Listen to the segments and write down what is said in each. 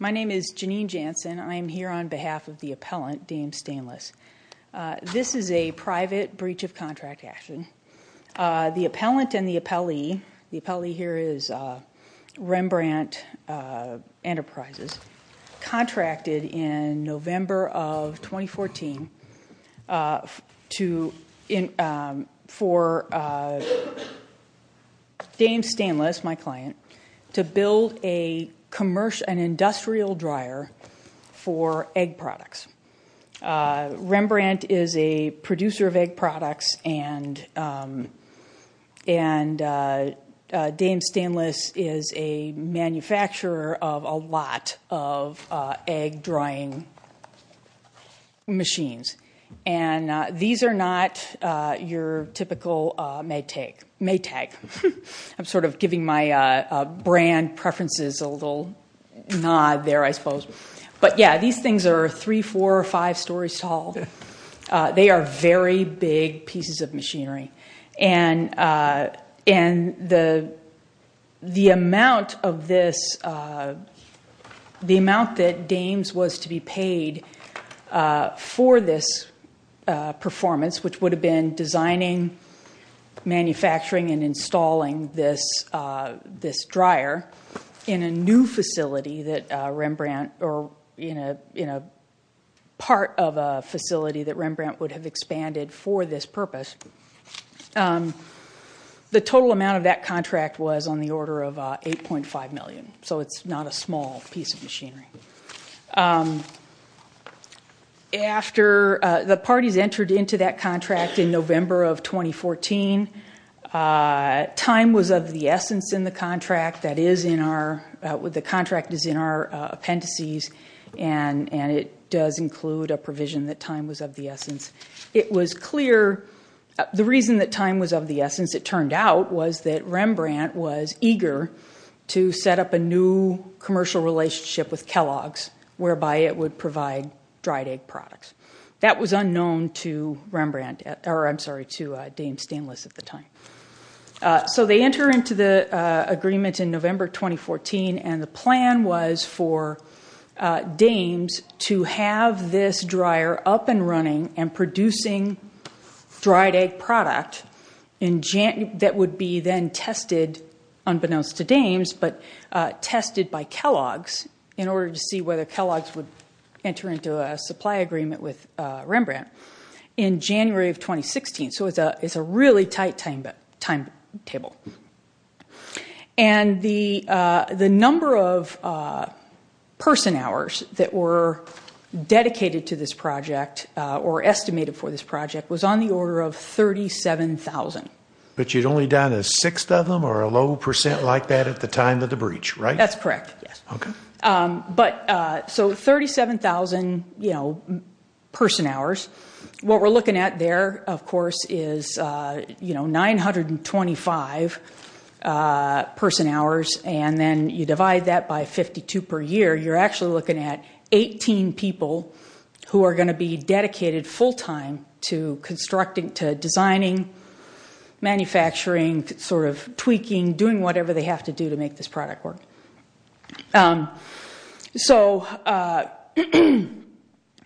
My name is Janine Jansen. I am here on behalf of the appellant, Dahmes Stainless. This is a private breach of contract action. The appellant and the appellee, the appellee here is Rembrandt Enterprises. Contracted in November of 2014 for Dahmes Stainless, my client, to build an industrial dryer for egg products. Rembrandt is a producer of egg products and Dahmes Stainless is a manufacturer of a lot of egg drying machines. And these are not your typical Maytag. I'm sort of giving my brand preferences a little nod there, I suppose. But yeah, these things are three, four, or five stories tall. They are very big pieces of machinery. And the amount of this, the amount that Dahmes was to be paid for this performance, which would have been designing, manufacturing, and installing this dryer in a new facility that Rembrandt, or in a part of a facility that Rembrandt would have expanded for this purpose, the total amount of that contract was on the order of 8.5 million. So it's not a small piece of machinery. After the parties entered into that contract in November of 2014, time was of the essence in the contract. That is in our, the contract is in our appendices and it does include a provision that time was of the essence. It was clear, the reason that time was of the essence, it turned out, was that Rembrandt was eager to set up a new commercial relationship with Kellogg's whereby it would provide dried egg products. That was unknown to Rembrandt, or I'm sorry, to Dahmes Stainless at the time. So they enter into the agreement in November 2014 and the plan was for Dahmes to have this dryer up and running and producing dried egg product that would be then tested, unbeknownst to Dahmes, but tested by Kellogg's in order to see whether Kellogg's would enter into a supply agreement with Rembrandt in January of 2016. So it's a really tight timetable. And the number of person hours that were dedicated to this project or estimated for this project was on the order of 37,000. But you'd only done a sixth of them or a low percent like that at the time of the breach, right? That's correct, yes. Okay. But so 37,000 person hours. What we're looking at there, of course, is 925 person hours and then you divide that by 52 per year, you're actually looking at 18 people who are going to be dedicated full-time to designing, manufacturing, sort of tweaking, doing whatever they have to do to make this product work. So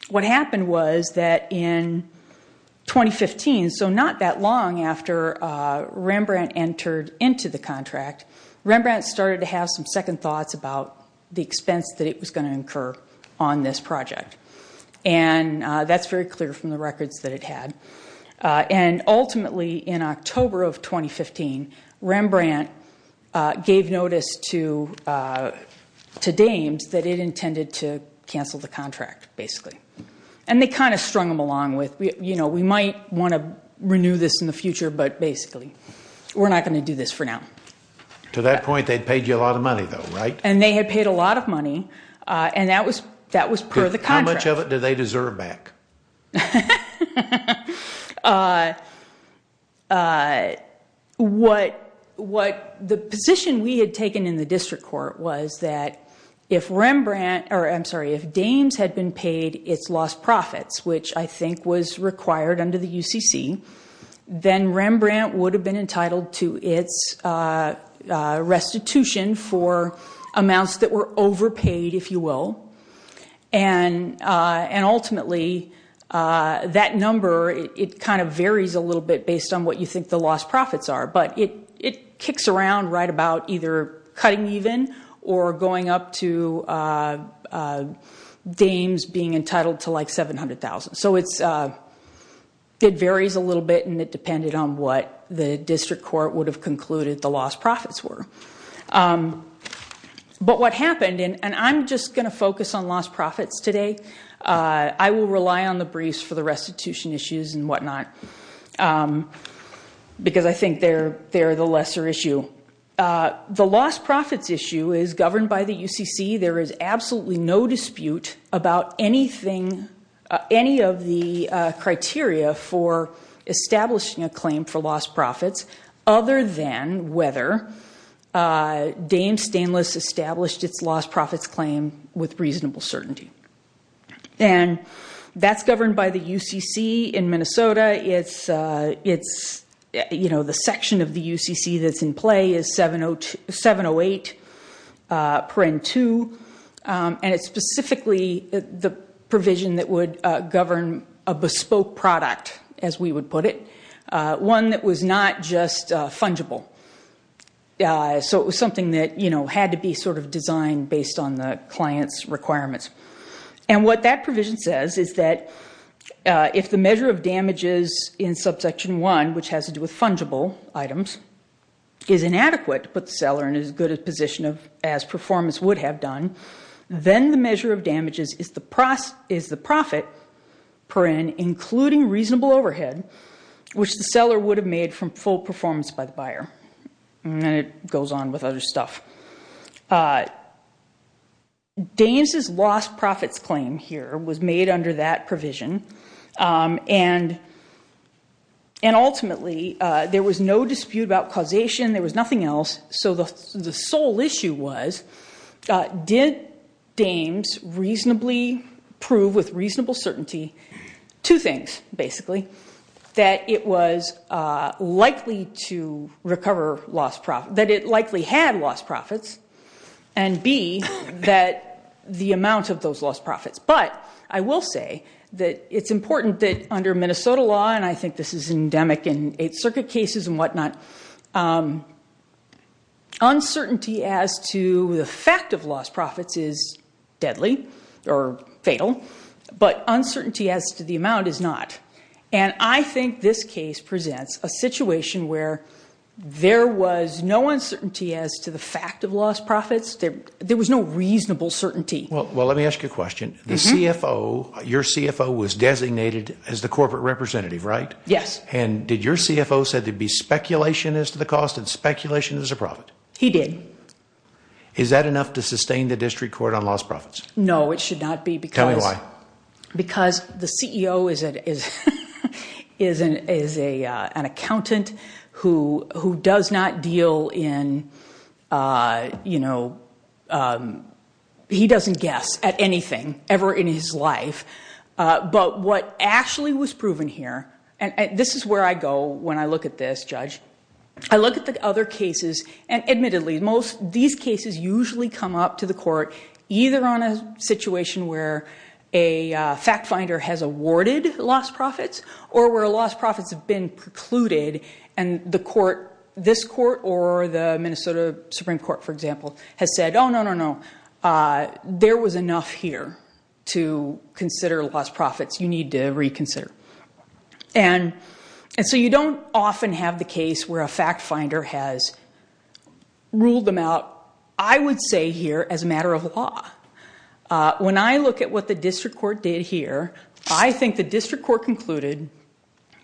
what happened was that in 2015, so not that long after Rembrandt entered into the contract, Rembrandt started to have some second thoughts about the expense that it was going to incur on this project. And that's very clear from the records that it had. And ultimately in October of 2015, Rembrandt gave notice to Dames that it intended to cancel the contract, basically. And they kind of strung them along with, you know, we might want to renew this in the future, but basically we're not going to do this for now. To that point, they'd paid you a lot of money though, right? And they had paid a lot of money and that was per the contract. How much of it do they deserve back? Uh, what the position we had taken in the District Court was that if Rembrandt, or I'm sorry, if Dames had been paid its lost profits, which I think was required under the UCC, then Rembrandt would have been entitled to its restitution for amounts that were overpaid, if you will. And ultimately, that number, it kind of varies a little bit based on what you think the lost profits are. But it kicks around right about either cutting even or going up to Dames being entitled to like $700,000. So it varies a little bit and it depended on what the District Court would have concluded the lost profits were. But what happened, and I'm just going to focus on lost profits today. I will rely on the briefs for the restitution issues and whatnot. Because I think they're the lesser issue. The lost profits issue is governed by the UCC. There is absolutely no dispute about anything, any of the criteria for establishing a claim for lost profits other than whether Dames Stainless established its lost profits claim with reasonable certainty. And that's governed by the UCC in Minnesota. It's, you know, the section of the UCC that's in play is 708, per in two, and it's specifically the provision that would govern a bespoke product, as we would put it. One that was not just fungible. So it was something that, you know, had to be sort of designed based on the client's requirements. And what that provision says is that if the measure of damages in subsection 1, which has to do with fungible items, is inadequate to put the seller in as good a position as performance would have done, then the measure of damages is the profit, per in including reasonable overhead, which the seller would have made from full performance by the buyer. And then it goes on with other stuff. Dames' lost profits claim here was made under that provision. And ultimately, there was no dispute about causation. There was nothing else. So the sole issue was, did Dames reasonably prove with reasonable certainty, two things, basically, that it was likely to recover lost profit, that it likely had lost profits, and B, that the amount of those lost profits. But I will say that it's important that under Minnesota law, and I think this is endemic in Eighth Circuit cases and whatnot, uncertainty as to the fact of lost profits is deadly or fatal, but uncertainty as to the amount is not. And I think this case presents a situation where there was no uncertainty as to the fact of lost profits. There was no reasonable certainty. Well, let me ask you a question. The CFO, your CFO was designated as the corporate representative, right? Yes. And did your CFO said there'd be speculation as to the cost and speculation as a profit? He did. Is that enough to sustain the district court on lost profits? No, it should not be because... Tell me why. Because the CEO is an accountant who does not deal in, you know, he doesn't guess at anything ever in his life. But what actually was proven here, and this is where I go when I look at this, judge. I look at the other cases and admittedly, most of these cases usually come up to the court either on a situation where a fact finder has awarded lost profits or where lost profits have been precluded and the court, this court or the Minnesota Supreme Court, for example, has said, oh, no, no, no, there was enough here to consider lost profits. You need to reconsider. And so you don't often have the case where a fact finder has ruled them out, I would say here, as a matter of law. When I look at what the district court did here, I think the district court concluded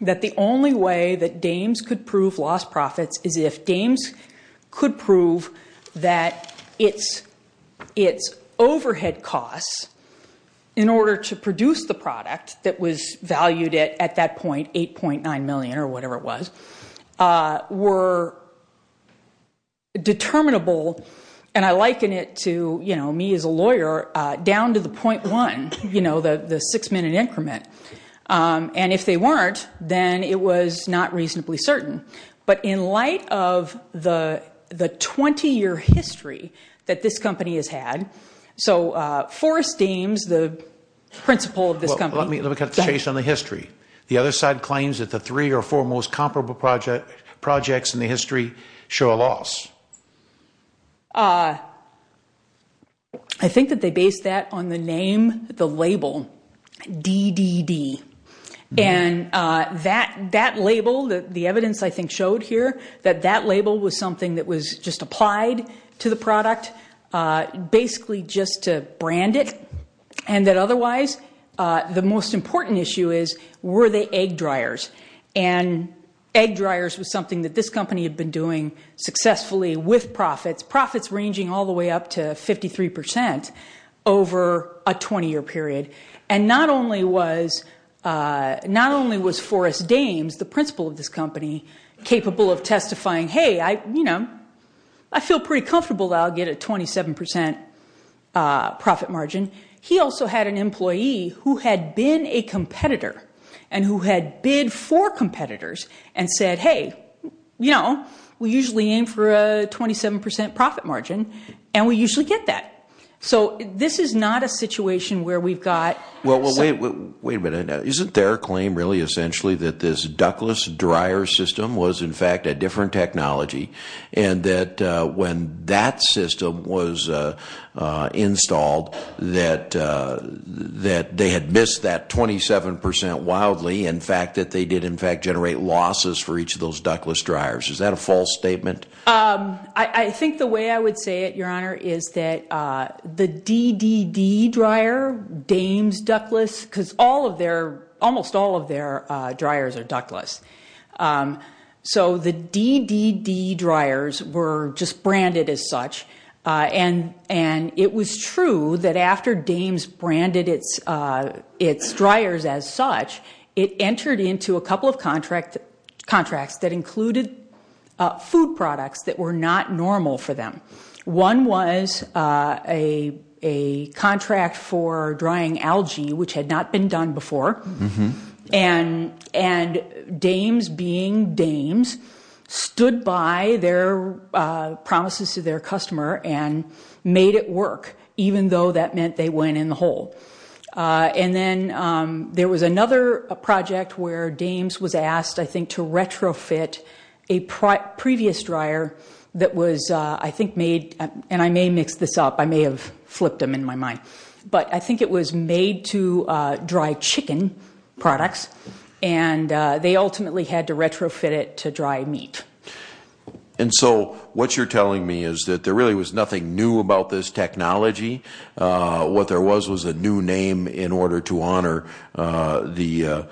that the only way that Dames could prove lost profits is if Dames could prove that its overhead costs in order to produce the product that was valued at that point, 8.9 million or whatever it was, were determinable and I liken it to, you know, me as a lawyer down to the 0.1, you know, the six minute increment. And if they weren't, then it was not reasonably certain. But in light of the 20-year history that this company has had, so Forrest Dames, the principal of this company... Let me cut the chase on the history. The other side claims that the three or four most comparable projects in the history show a loss. I think that they based that on the name, the label, DDD. And that label, the evidence I think showed here, that that label was something that was just applied to the product, basically just to brand it. And that otherwise, the most important issue is, were they egg dryers? And egg dryers was something that this company had been doing successfully with profits, profits ranging all the way up to 53% over a 20-year period. And not only was Forrest Dames, the principal of this company, capable of testifying, hey, I feel pretty comfortable that I'll get a 27% profit margin. He also had an employee who had been a competitor and who had bid for competitors and said, hey, we usually aim for a 27% profit margin, and we usually get that. So this is not a situation where we've got... Well, wait a minute. Isn't their claim really essentially that this Douglas dryer system was in fact a different technology, and that when that system was installed, that they had missed that 27% wildly, in fact, that they did in fact generate losses for each of those Douglas dryers? Is that a false statement? I think the way I would say it, Your Honor, is that the DDD dryer, Dames Douglas, because almost all of their dryers are Douglas. So the DDD dryers were just branded as such, and it was true that after Dames branded its dryers as such, it entered into a couple of contracts that included food products that were not normal for them. One was a contract for drying algae, which had not been done before, and Dames being Dames, stood by their promises to their customer and made it work, even though that meant they went in the hole. And then there was another project where Dames was asked, I think, to retrofit a previous dryer that was, I think, made... And I may mix this up. I may have flipped them in my mind. But I think it was made to dry chicken products, and they ultimately had to retrofit it to dry meat. And so what you're telling me is that there really was nothing new about this technology. What there was was a new name in order to honor the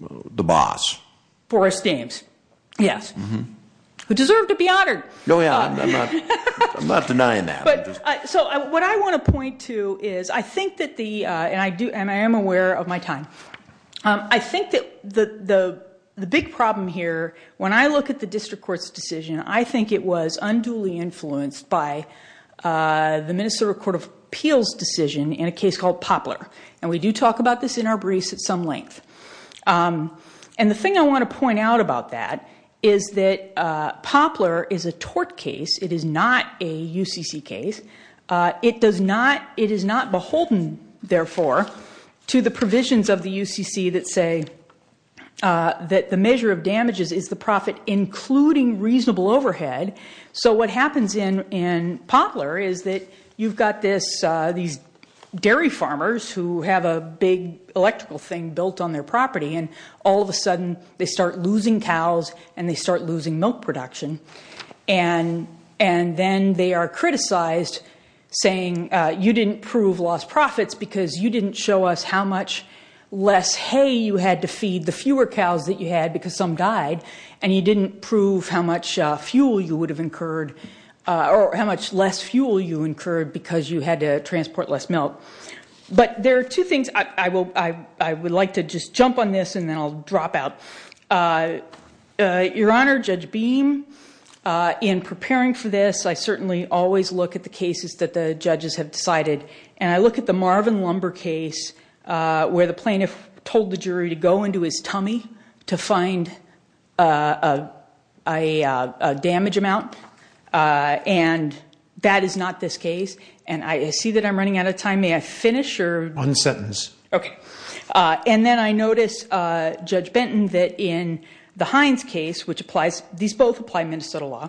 boss. Forrest Dames, yes. Who deserved to be honored. No, yeah, I'm not denying that. So what I want to point to is, I think that the, and I am aware of my time, I think that the big problem here, when I look at the district court's decision, I think it was unduly influenced by the Minnesota Court of Appeals' decision in a case called Poplar. And we do talk about this in our briefs at some length. And the thing I want to point out about that is that Poplar is a tort case. It is not a UCC case. It does not, it is not beholden, therefore, to the provisions of the UCC that say that the measure of damages is the profit including reasonable overhead. So what happens in Poplar is that you've got these dairy farmers who have a big electrical thing built on their property, and all of a sudden they start losing cows, and they start losing milk production. And then they are criticized saying, you didn't prove lost profits because you didn't show us how much less hay you had to feed the fewer cows that you had because some died, and you didn't prove how much fuel you would have incurred, or how much less fuel you incurred because you had to transport less milk. But there are two things, I would like to just jump on this and then I'll drop out. Your Honor, Judge Beam, in preparing for this, I certainly always look at the cases that the judges have decided. And I look at the Marvin Lumber case where the plaintiff told the jury to go into his tummy to find a damage amount, and that is not this case. And I see that I'm running out of time. May I finish? Unsentence. Okay. And then I notice, Judge Benton, that in the Hines case, which applies, these both apply Minnesota law,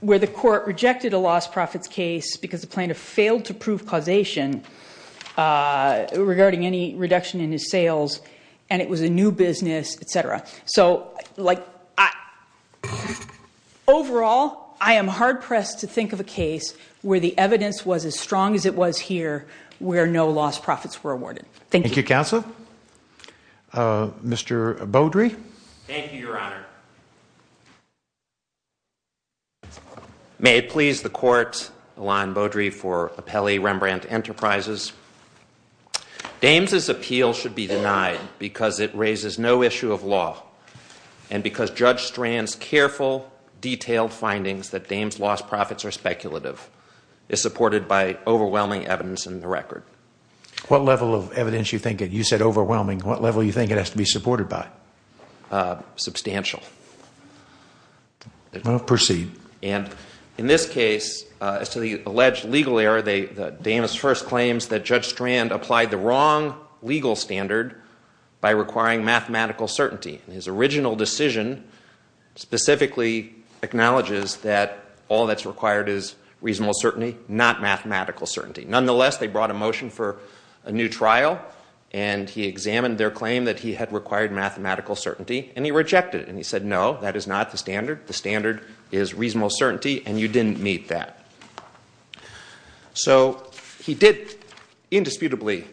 where the court rejected a lost profits case because the plaintiff failed to prove causation regarding any reduction in his sales, and it was a new business, et cetera. So, like, overall, I am hard-pressed to think of a case where the evidence was as strong as it was here where no lost profits were awarded. Thank you. Thank you, Counsel. Mr. Beaudry. Thank you, Your Honor. May it please the court, Alon Beaudry, for appellee Rembrandt Enterprises. Dames' appeal should be denied because it raises no issue of law and because Judge Strand's careful, detailed findings that Dames' lost profits are speculative is supported by overwhelming evidence in the record. What level of evidence do you think it is? You said overwhelming. What level do you think it has to be supported by? Substantial. Proceed. And in this case, as to the alleged legal error, Dames first claims that Judge Strand applied the wrong legal standard by requiring mathematical certainty. His original decision specifically acknowledges that all that's required is reasonable certainty, not mathematical certainty. Nonetheless, they brought a motion for a new trial and he examined their claim that he had required mathematical certainty and he rejected it and he said, no, that is not the standard. The standard is reasonable certainty and you didn't meet that. So he did indisputably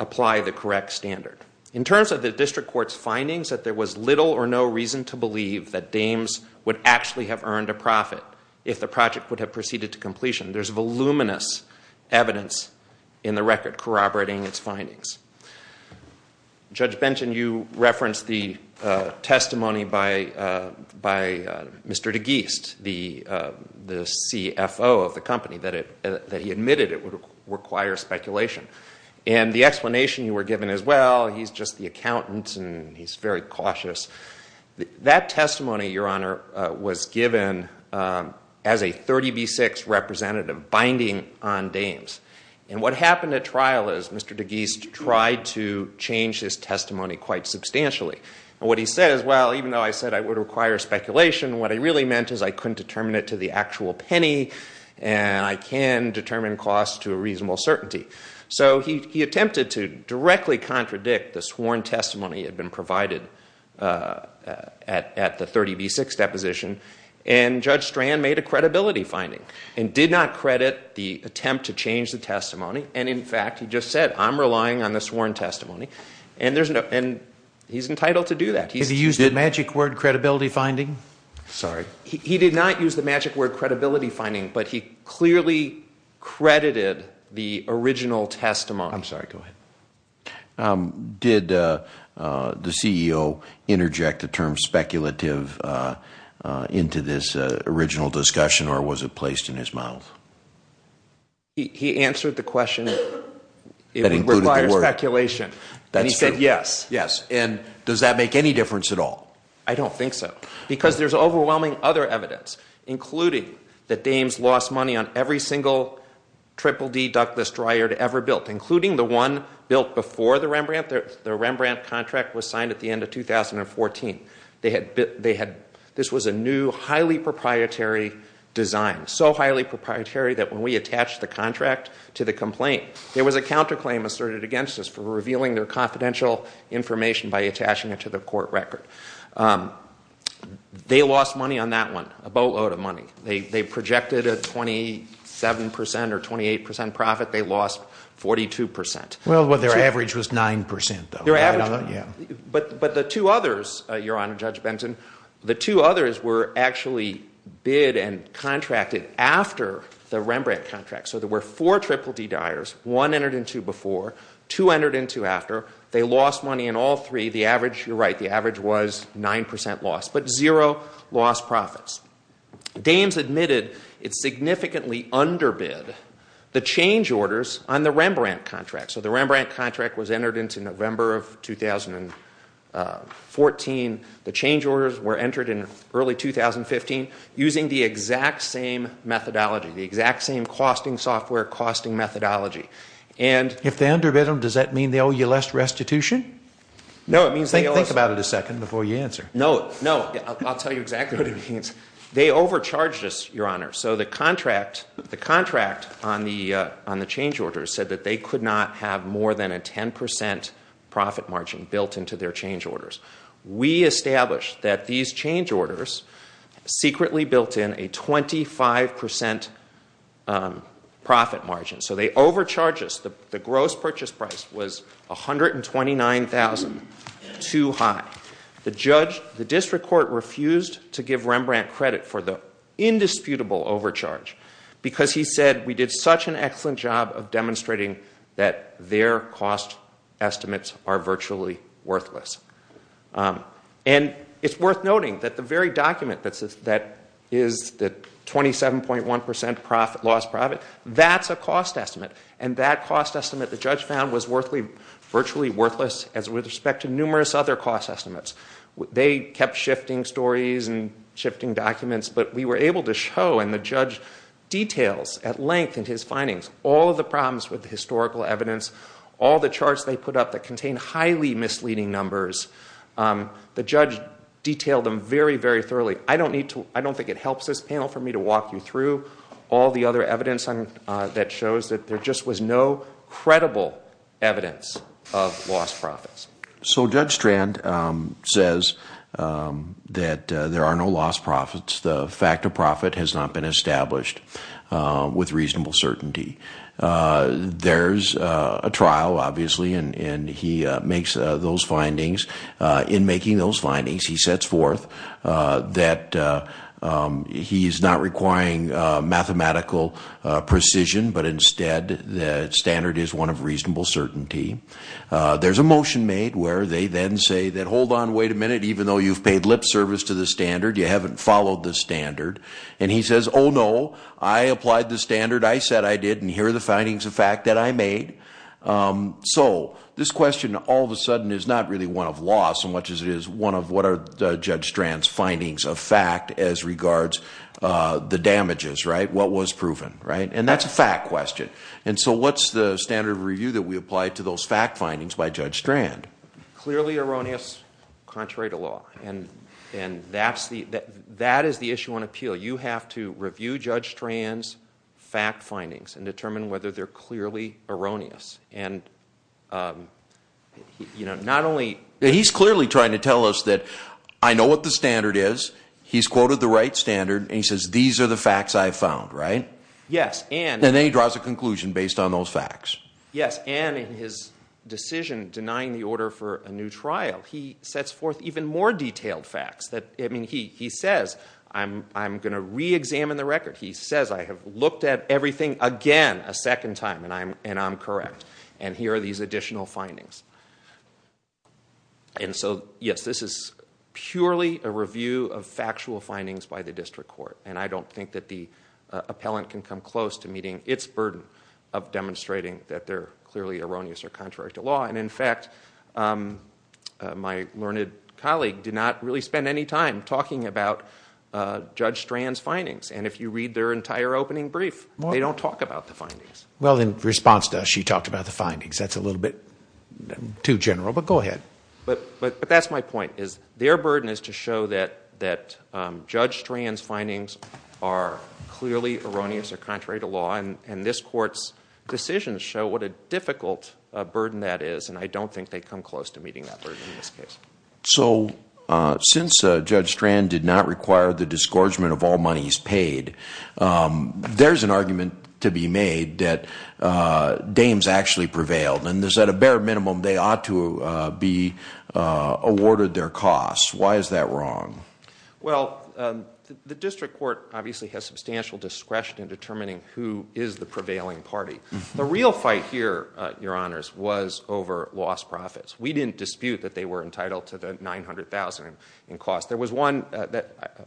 apply the correct standard. In terms of the district court's findings that there was little or no reason to believe that Dames would actually have earned a profit if the project would have proceeded to completion, there's voluminous evidence in the record corroborating its findings. Judge Benton, you referenced the testimony by Mr. DeGeest, the CFO of the company, that he admitted it would require speculation. And the explanation you were given is, well, he's just the accountant and he's very cautious. That testimony, Your Honor, was given as a 30B6 representative binding on Dames. And what happened at trial is Mr. DeGeest tried to change his testimony quite substantially. And what he says, well, even though I said I would require speculation, what I really meant is I couldn't determine it to the actual penny and I can determine costs to a reasonable certainty. So he attempted to directly contradict the sworn testimony that had been provided at the 30B6 deposition, and Judge Strand made a credibility finding and did not credit the attempt to change the testimony. And, in fact, he just said, I'm relying on the sworn testimony. And he's entitled to do that. Did he use the magic word credibility finding? Sorry. He did not use the magic word credibility finding, but he clearly credited the original testimony. I'm sorry, go ahead. Did the CEO interject the term speculative into this original discussion, or was it placed in his mouth? He answered the question, it would require speculation. And he said yes. Yes. And does that make any difference at all? I don't think so. Because there's overwhelming other evidence, including that Dames lost money on every single triple-D ductless dryer it ever built, including the one built before the Rembrandt. The Rembrandt contract was signed at the end of 2014. This was a new, highly proprietary design, so highly proprietary that when we attached the contract to the complaint, there was a counterclaim asserted against us for revealing their confidential information by attaching it to the court record. They lost money on that one, a boatload of money. They projected a 27% or 28% profit. They lost 42%. Well, their average was 9%, though. Their average. But the two others, Your Honor, Judge Benton, the two others were actually bid and contracted after the Rembrandt contract. So there were four triple-D dyers, one entered in two before, two entered in two after. They lost money in all three. The average, you're right, the average was 9% loss, but zero lost profits. Dames admitted it's significantly underbid. The change orders on the Rembrandt contract, so the Rembrandt contract was entered into November of 2014. The change orders were entered in early 2015 using the exact same methodology, the exact same costing software, costing methodology. If they underbid them, does that mean they owe you less restitution? No, it means they owe us... Think about it a second before you answer. No, no, I'll tell you exactly what it means. They overcharged us, Your Honor. So the contract on the change orders said that they could not have more than a 10% profit margin built into their change orders. We established that these change orders secretly built in a 25% profit margin. So they overcharged us. The gross purchase price was $129,000, too high. The district court refused to give Rembrandt credit for the indisputable overcharge because he said we did such an excellent job of demonstrating that their cost estimates are virtually worthless. And it's worth noting that the very document that is the 27.1% loss profit, that's a cost estimate. And that cost estimate, the judge found, was virtually worthless with respect to numerous other cost estimates. They kept shifting stories and shifting documents, but we were able to show, and the judge details at length in his findings, all of the problems with the historical evidence, all the charts they put up that contain highly misleading numbers. The judge detailed them very, very thoroughly. I don't think it helps this panel for me to walk you through all the other evidence that shows that there just was no credible evidence of lost profits. So Judge Strand says that there are no lost profits. The fact of profit has not been established with reasonable certainty. There's a trial, obviously, and he makes those findings. In making those findings, he sets forth that he's not requiring mathematical precision, but instead the standard is one of reasonable certainty. There's a motion made where they then say that, hold on, wait a minute, even though you've paid lip service to the standard, you haven't followed the standard. And he says, oh, no, I applied the standard. I said I did, and here are the findings of fact that I made. So this question all of a sudden is not really one of loss so much as it is one of what are Judge Strand's findings of fact as regards the damages, right, what was proven, right? And that's a fact question. And so what's the standard of review that we apply to those fact findings by Judge Strand? Clearly erroneous, contrary to law. And that is the issue on appeal. You have to review Judge Strand's fact findings and determine whether they're clearly erroneous. And, you know, not only... He's clearly trying to tell us that I know what the standard is, he's quoted the right standard, and he says these are the facts I've found, right? Yes, and... And then he draws a conclusion based on those facts. Yes, and in his decision denying the order for a new trial, he sets forth even more detailed facts. I mean, he says, I'm going to re-examine the record. He says, I have looked at everything again a second time, and I'm correct, and here are these additional findings. And so, yes, this is purely a review of factual findings by the district court, and I don't think that the appellant can come close to meeting its burden of demonstrating that they're clearly erroneous or contrary to law. And, in fact, my learned colleague did not really spend any time talking about Judge Strand's findings. And if you read their entire opening brief, they don't talk about the findings. Well, in response to us, she talked about the findings. That's a little bit too general, but go ahead. But that's my point, is their burden is to show that Judge Strand's findings are clearly erroneous or contrary to law, and this court's decisions show what a difficult burden that is, and I don't think they come close to meeting that burden in this case. So, since Judge Strand did not require the disgorgement of all monies paid, there's an argument to be made that dames actually prevailed, and that at a bare minimum, they ought to be awarded their costs. Why is that wrong? Well, the district court obviously has substantial discretion in determining who is the prevailing party. The real fight here, Your Honours, was over lost profits. We didn't dispute that they were entitled to the $900,000 in costs. There was one that,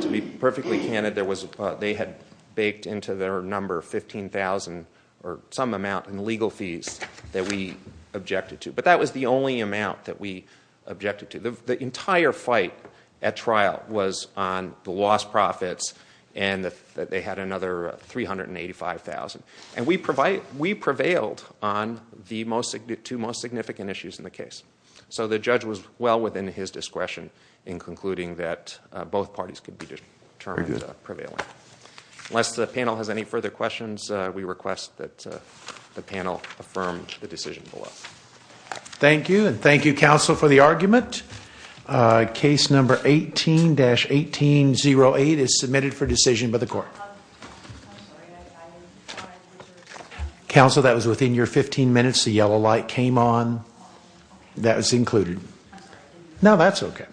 to be perfectly candid, they had baked into their number $15,000 or some amount in legal fees that we objected to. But that was the only amount that we objected to. The entire fight at trial was on the lost profits and that they had another $385,000. And we prevailed on the two most significant issues in the case. So the judge was well within his discretion in concluding that both parties could be determined as prevailing. Unless the panel has any further questions, we request that the panel affirm the decision below. Thank you, and thank you, counsel, for the argument. Case number 18-1808 is submitted for decision by the court. Counsel, that was within your 15 minutes. The yellow light came on. That was included. No, that's okay.